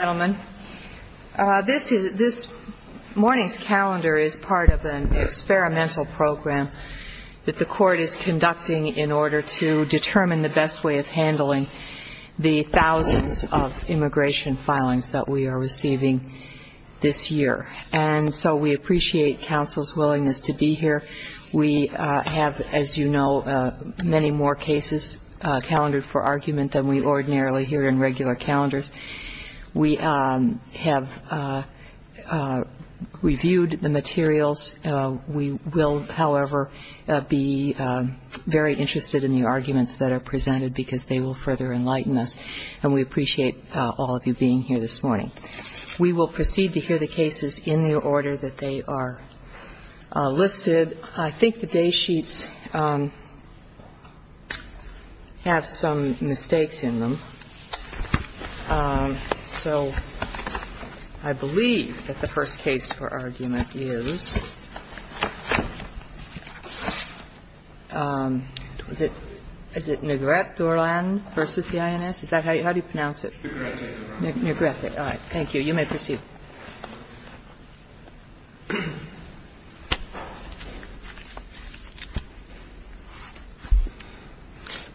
Ladies and gentlemen, this morning's calendar is part of an experimental program that the court is conducting in order to determine the best way of handling the thousands of immigration filings that we are receiving this year. And so we appreciate counsel's willingness to be here. We have, as you know, many more cases calendared for argument than we ordinarily hear in regular calendars. We have reviewed the materials. We will, however, be very interested in the arguments that are presented because they will further enlighten us. And we appreciate all of you being here this morning. We will proceed to hear the cases in the order that they are listed. I think the day sheets have some mistakes in them. So I believe that the first case for argument is, is it Negret-Duran v. INS? Is that how you pronounce it? Negret-Duran. Negret-Duran, all right. Thank you. You may proceed.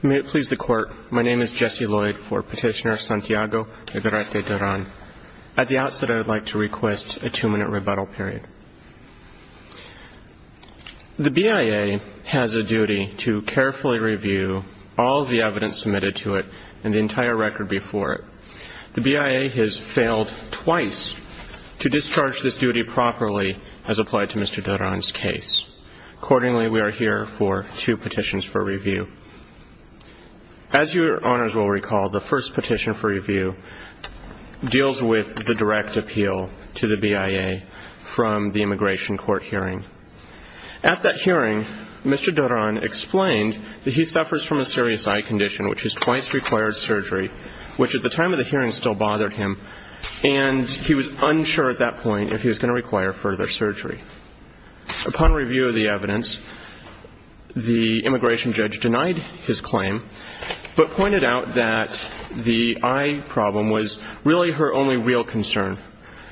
May it please the Court, my name is Jesse Lloyd for Petitioner Santiago Negret-Duran. At the outset, I would like to request a two-minute rebuttal period. The BIA has a duty to carefully review all of the evidence submitted to it and the entire record before it. The BIA has failed twice to discharge this duty properly as applied to Mr. Duran's case. Accordingly, we are here for two petitions for review. As your honors will recall, the first petition for review deals with the direct appeal to the BIA from the immigration court hearing. At that hearing, Mr. Duran explained that he suffers from a serious eye condition which has twice required surgery, which at the time of the hearing still bothered him, and he was unsure at that point if he was going to require further surgery. Upon review of the evidence, the immigration judge denied his claim, but pointed out that the eye problem was really her only real concern,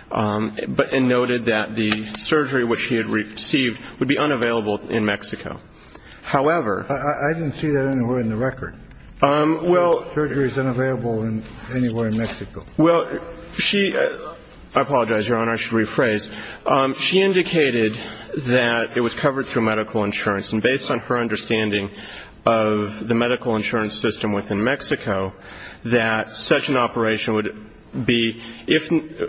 but noted that the surgery which he had received would be unavailable in Mexico. However — I didn't see that anywhere in the record. Surgery is unavailable anywhere in Mexico. Well, she — I apologize, your honor. I should rephrase. She indicated that it was covered through medical insurance, and based on her understanding of the medical insurance system within Mexico, that such an operation would be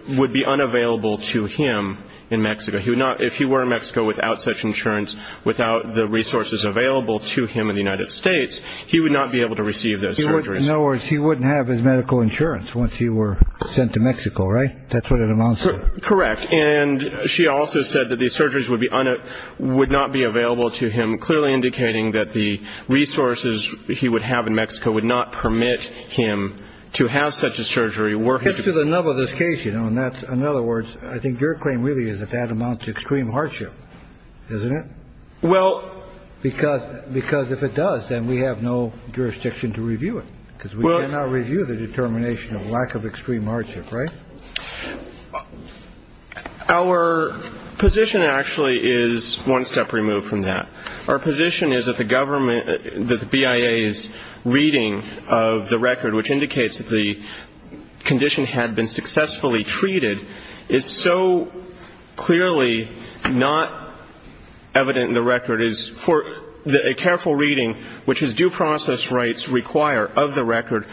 — would be unavailable to him in Mexico. He would not — if he were in Mexico without such insurance, without the resources available to him in the United States, he would not be able to receive those surgeries. In other words, he wouldn't have his medical insurance once he were sent to Mexico, right? That's what it amounts to. Correct. And she also said that these surgeries would be — would not be available to him, clearly indicating that the resources he would have in Mexico would not permit him to have such a surgery, were he to — It's to the nub of this case, you know, and that's — in other words, I think your claim really is that that amounts to extreme hardship, isn't it? Well — Because — because if it does, then we have no jurisdiction to review it. Well — Because we cannot review the determination of lack of extreme hardship, right? Our position actually is one step removed from that. Our position is that the government — that the BIA's reading of the record, which indicates that the condition had been successfully treated, is so clearly not evident in the record, is for — that a careful reading, which is due process rights require of the record,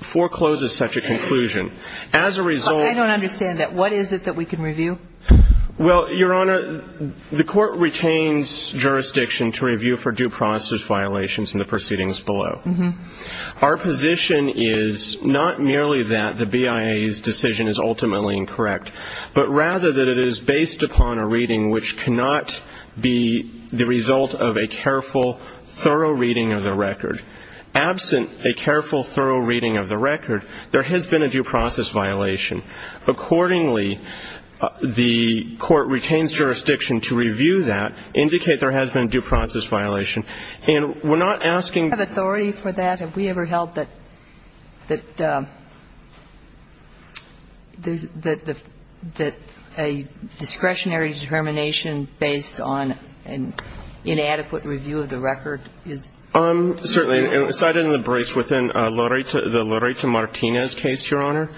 forecloses such a conclusion. As a result — I don't understand that. What is it that we can review? Well, Your Honor, the court retains jurisdiction to review for due process violations in the proceedings below. Mm-hmm. Our position is not merely that the BIA's decision is ultimately incorrect, but rather that it is based upon a reading which cannot be the result of a careful, thorough reading of the record. Absent a careful, thorough reading of the record, there has been a due process violation. Accordingly, the court retains jurisdiction to review that, indicate there has been a due process violation. And we're not asking — We're not asking for help that — that a discretionary determination based on an inadequate review of the record is — Certainly. Cited in the briefs within the Loretta Martinez case, Your Honor,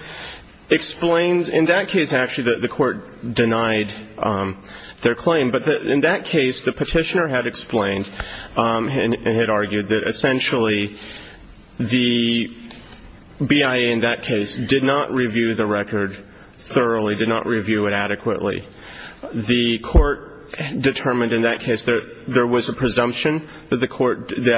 explains — in that case, actually, the court denied their claim. But in that case, the petitioner had explained and had argued that essentially the BIA in that case did not review the record thoroughly, did not review it adequately. The court determined in that case there was a presumption that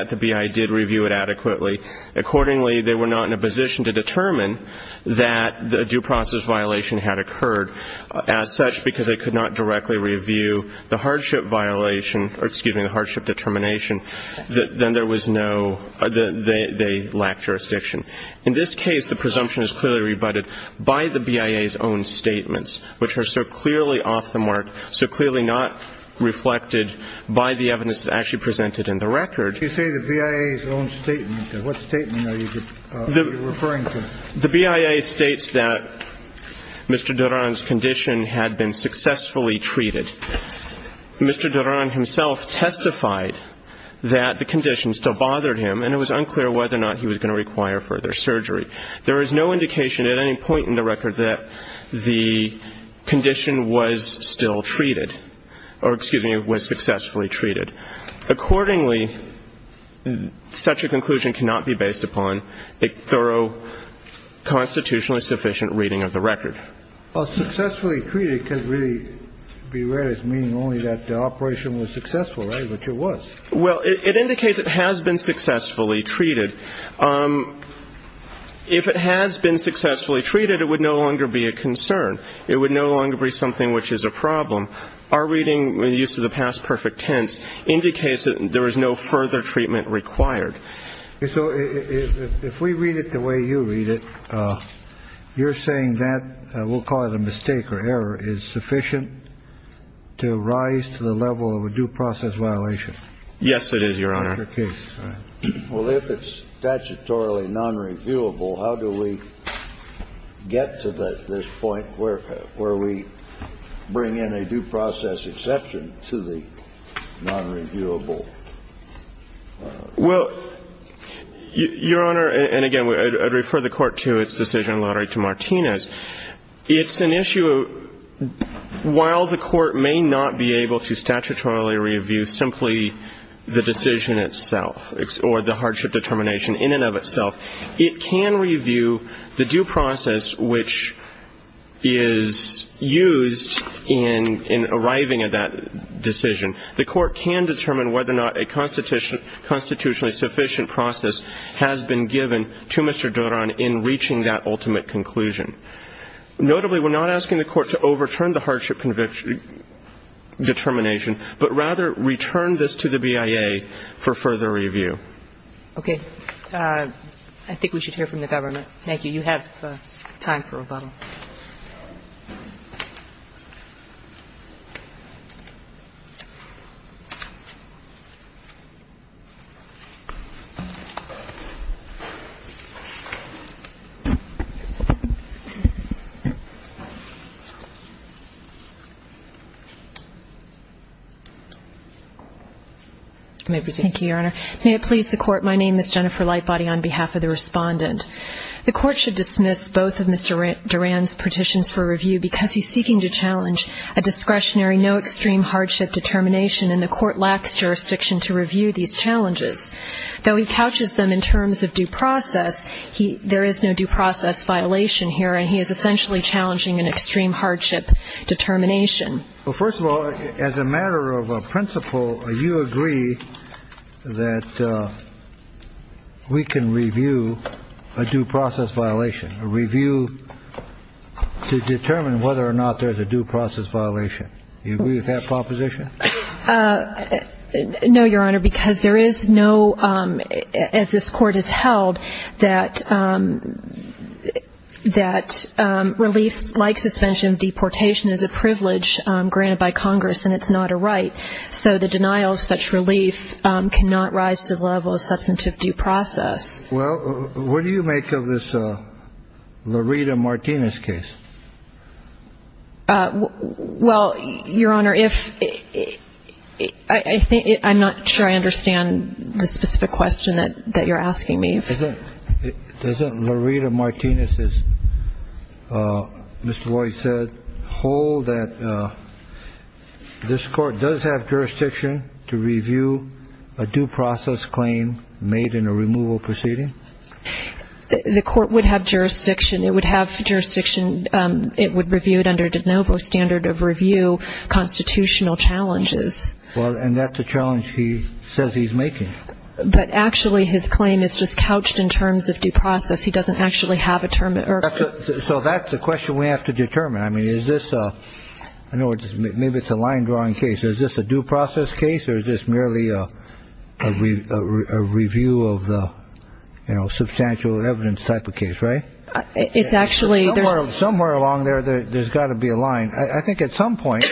the BIA did review it adequately. Accordingly, they were not in a position to determine that a due process violation had occurred as such because they could not directly review the hardship violation — or, excuse me, the hardship determination. Then there was no — they lacked jurisdiction. In this case, the presumption is clearly rebutted by the BIA's own statements, which are so clearly off the mark, so clearly not reflected by the evidence that's actually presented in the record. You say the BIA's own statement. What statement are you referring to? The BIA states that Mr. Duran's condition had been successfully treated. Mr. Duran himself testified that the condition still bothered him, and it was unclear whether or not he was going to require further surgery. There is no indication at any point in the record that the condition was still treated — or, excuse me, was successfully treated. Accordingly, such a conclusion cannot be based upon a thorough review of the record or a constitutionally sufficient reading of the record. Well, successfully treated can really be read as meaning only that the operation was successful, right, which it was. Well, it indicates it has been successfully treated. If it has been successfully treated, it would no longer be a concern. It would no longer be something which is a problem. Our reading, the use of the past perfect tense, indicates that there is no further treatment required. So if we read it the way you read it, you're saying that, we'll call it a mistake or error, is sufficient to rise to the level of a due process violation? Yes, it is, Your Honor. That's your case. Well, if it's statutorily nonreviewable, how do we get to this point where we bring in a due process exception to the nonreviewable? Well, Your Honor, and again, I'd refer the Court to its decision in Lottery to Martinez. It's an issue, while the Court may not be able to statutorily review simply the decision itself or the hardship determination in and of itself, it can review the due process which is used in arriving at that decision. The Court can determine whether or not a constitutionally sufficient process has been given to Mr. Duran in reaching that ultimate conclusion. Notably, we're not asking the Court to overturn the hardship determination, but rather return this to the BIA for further review. Okay. I think we should hear from the government. Thank you. You have time for rebuttal. May I present? Thank you, Your Honor. May it please the Court, my name is Jennifer Lightbody on behalf of the respondent. The Court should dismiss both of Ms. Duran's claims in the case of the review because he's seeking to challenge a discretionary no extreme hardship determination, and the Court lacks jurisdiction to review these challenges. Though he couches them in terms of due process, there is no due process violation here, and he is essentially challenging an extreme hardship determination. Well, first of all, as a matter of principle, you agree that we can review a due process violation, a review to determine whether or not there's a due process violation. Do you agree with that proposition? No, Your Honor, because there is no, as this Court has held, that relief like suspension of deportation is a privilege granted by Congress, and it's not a right. So the denial of such relief cannot rise to the level of substantive due process. Well, what do you make of this Loretta Martinez case? Well, Your Honor, I'm not sure I understand the specific question that you're asking me. Doesn't Loretta Martinez, as Mr. Lloyd said, hold that this Court does have jurisdiction to review a due process claim made in a removal proceeding? The Court would have jurisdiction. It would have jurisdiction. It would review it under de novo standard of review constitutional challenges. Well, and that's a challenge he says he's making. But actually his claim is just couched in terms of due process. He doesn't actually have a term. So that's the question we have to determine. I mean, is this a ñ maybe it's a line-drawing case. Is this a due process case or is this merely a review of the, you know, substantial evidence type of case, right? It's actually ñ Somewhere along there there's got to be a line. I think at some point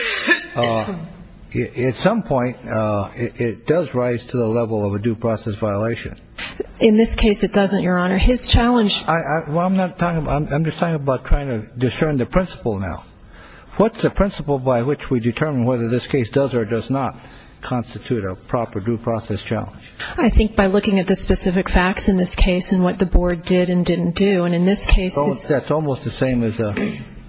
it does rise to the level of a due process violation. In this case it doesn't, Your Honor. His challenge ñ Well, I'm not talking about ñ I'm just talking about trying to discern the principle now. What's the principle by which we determine whether this case does or does not constitute a proper due process challenge? I think by looking at the specific facts in this case and what the board did and didn't do. And in this case ñ That's almost the same as a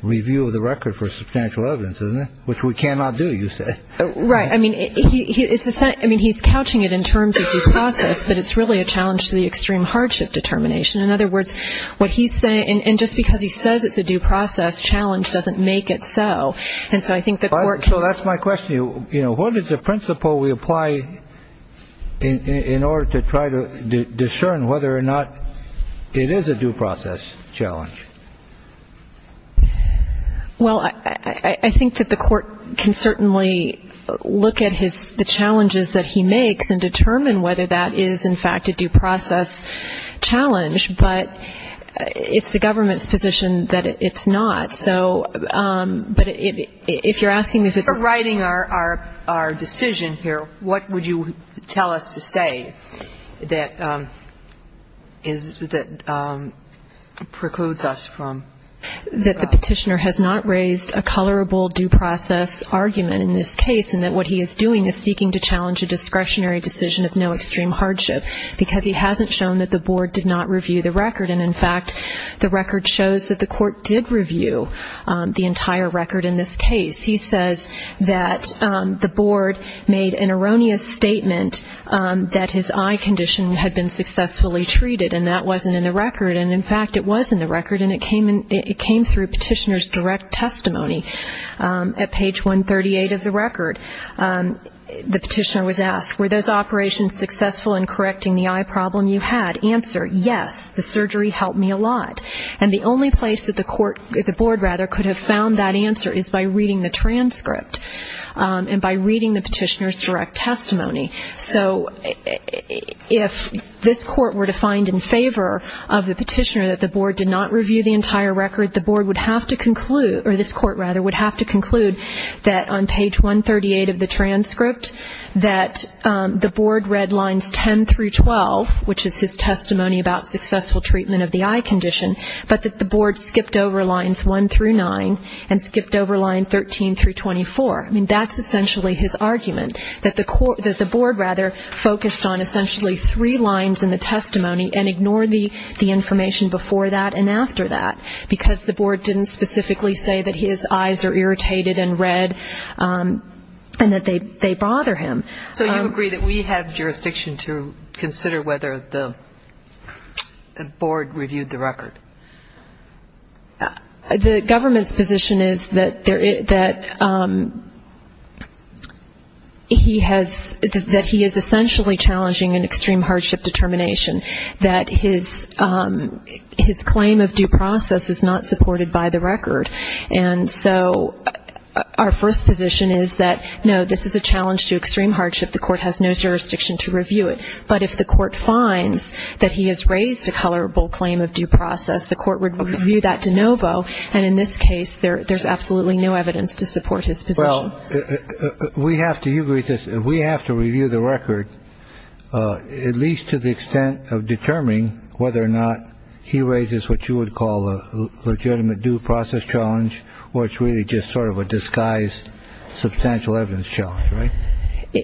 review of the record for substantial evidence, isn't it, which we cannot do, you say. Right. I mean, he's couching it in terms of due process, but it's really a challenge to the extreme hardship determination. In other words, what he's saying ñ and just because he says it's a due process challenge doesn't make it so. And so I think the court can ñ So that's my question. You know, what is the principle we apply in order to try to discern whether or not it is a due process challenge? Well, I think that the court can certainly look at his ñ the challenges that he makes and determine whether that is, in fact, a due process challenge. But it's the government's position that it's not. So ñ but if you're asking me if it's a ñ You're writing our decision here. What would you tell us to say that is ñ that precludes us from ñ That the petitioner has not raised a colorable due process argument in this case and that what he is doing is seeking to challenge a discretionary decision of no extreme hardship, because he hasn't shown that the board did not review the record. And, in fact, the record shows that the court did review the entire record in this case. He says that the board made an erroneous statement that his eye condition had been successfully treated, and that wasn't in the record. And, in fact, it was in the record, and it came through petitioner's direct testimony. At page 138 of the record, the petitioner was asked, were those operations successful in correcting the eye problem you had? Answer, yes, the surgery helped me a lot. And the only place that the board could have found that answer is by reading the transcript and by reading the petitioner's direct testimony. So if this court were to find in favor of the petitioner that the board did not review the entire record, the board would have to conclude ñ or this court, rather, would have to conclude that, on page 138 of the transcript, that the board read lines 10 through 12, which is his testimony about successful treatment of the eye condition, but that the board skipped over lines 1 through 9 and skipped over line 13 through 24. I mean, that's essentially his argument, that the board, rather, focused on essentially three lines in the testimony and ignored the information before that and after that, because the board didn't specifically say that his eyes are irritated and red and that they bother him. So you agree that we have jurisdiction to consider whether the board reviewed the record? The government's position is that he has ñ that he is essentially challenging an extreme hardship determination, that his claim of due process is not supported by the record. And so our first position is that, no, this is a challenge to extreme hardship. The court has no jurisdiction to review it. But if the court finds that he has raised a colorable claim of due process, the court would review that de novo. And in this case, there's absolutely no evidence to support his position. Well, we have to ñ you agree that we have to review the record at least to the extent of determining whether or not he raises what you would call a legitimate due process challenge or it's really just sort of a disguised substantial evidence challenge, right?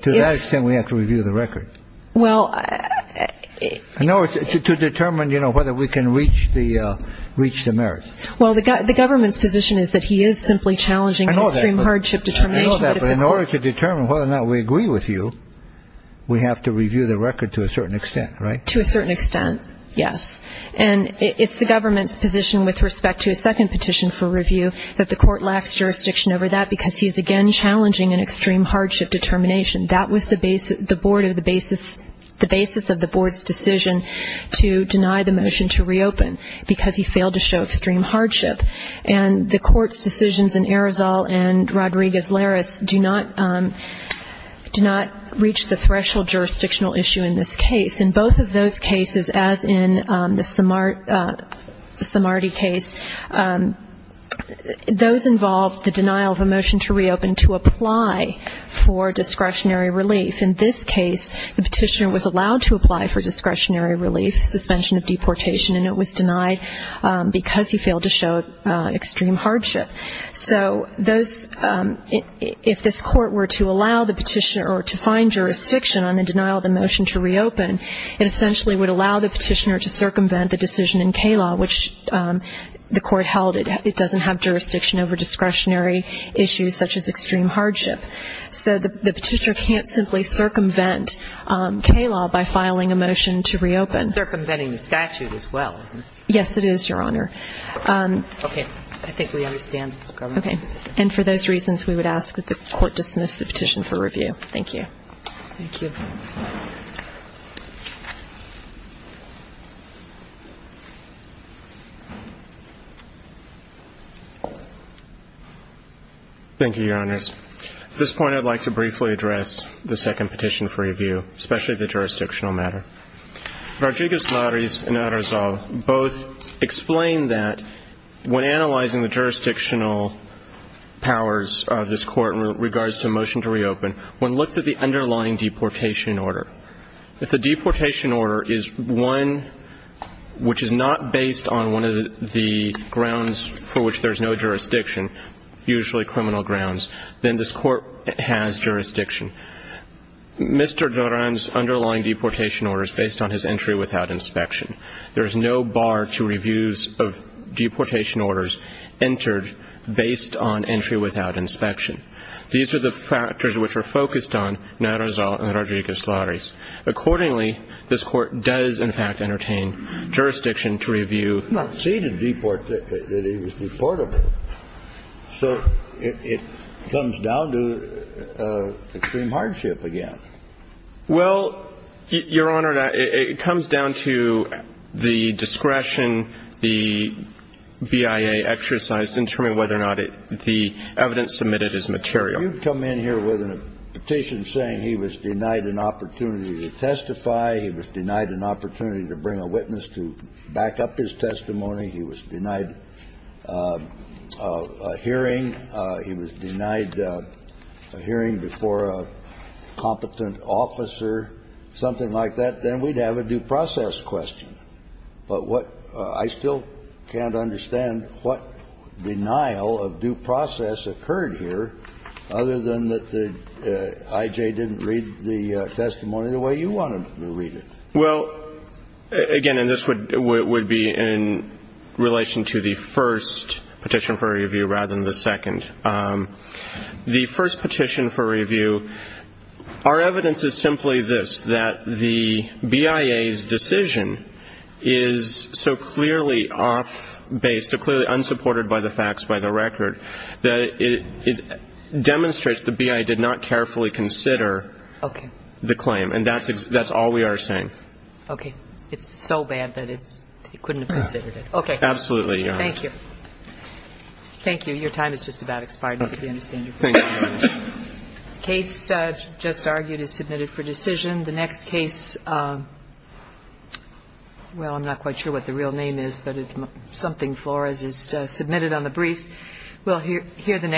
To that extent, we have to review the record. Well ñ No, it's to determine, you know, whether we can reach the ñ reach the merits. Well, the government's position is that he is simply challenging an extreme hardship determination. I know that, but in order to determine whether or not we agree with you, we have to review the record to a certain extent, right? To a certain extent, yes. And it's the government's position with respect to a second petition for review that the court lacks jurisdiction over that because he is, again, challenging an extreme hardship determination. That was the board of the basis ñ the basis of the board's decision to deny the motion to reopen because he failed to show extreme hardship. And the court's decisions in Arizal and Rodriguez-Larez do not ñ do not reach the threshold jurisdictional issue in this case. In both of those cases, as in the Samardi case, those involved the denial of a motion to reopen to apply for discretionary relief. In this case, the petitioner was allowed to apply for discretionary relief, suspension of deportation, and it was denied because he failed to show extreme hardship. So those ñ if this court were to allow the petitioner or to find jurisdiction on the denial of the motion to reopen, it essentially would allow the petitioner to circumvent the decision in K-law, which the court held it doesn't have jurisdiction over discretionary issues such as extreme hardship. So the petitioner can't simply circumvent K-law by filing a motion to reopen. It's circumventing the statute as well, isn't it? Yes, it is, Your Honor. Okay. I think we understand, Governor. Okay. And for those reasons, we would ask that the court dismiss the petition for review. Thank you. Thank you. Thank you, Your Honors. At this point, I'd like to briefly address the second petition for review, especially the jurisdictional matter. Rodriguez-Larres and Arrizal both explained that when analyzing the jurisdictional powers of this court in regards to a motion to reopen, one looks at the underlying deportation. If the deportation order is one which is not based on one of the grounds for which there's no jurisdiction, usually criminal grounds, then this court has jurisdiction. Mr. Duran's underlying deportation order is based on his entry without inspection. There is no bar to reviews of deportation orders entered based on entry without inspection. These are the factors which are focused on in Arrizal and Rodriguez-Larres. Accordingly, this court does, in fact, entertain jurisdiction to review. It's not stated in the report that it was deportable. So it comes down to extreme hardship again. Well, Your Honor, it comes down to the discretion the BIA exercised in determining whether or not the evidence submitted is material. If you come in here with a petition saying he was denied an opportunity to testify, he was denied an opportunity to bring a witness to back up his testimony, he was denied a hearing, he was denied a hearing before a competent officer, something like that, then we'd have a due process question. But what – I still can't understand what denial of due process occurred here other than that the I.J. didn't read the testimony the way you wanted him to read it. Well, again, and this would be in relation to the first petition for review rather than the second. The first petition for review, our evidence is simply this, that the BIA's decision is so clearly off base, so clearly unsupported by the facts, by the record, that it demonstrates the BIA did not carefully consider the claim. Okay. And that's all we are saying. Okay. It's so bad that it couldn't have considered it. Okay. Absolutely, Your Honor. Thank you. Thank you. Your time has just about expired. I think we understand your point. Thank you. The case just argued is submitted for decision. The next case – well, I'm not quite sure what the real name is, but it's something Flores has submitted on the briefs. We'll hear the next case.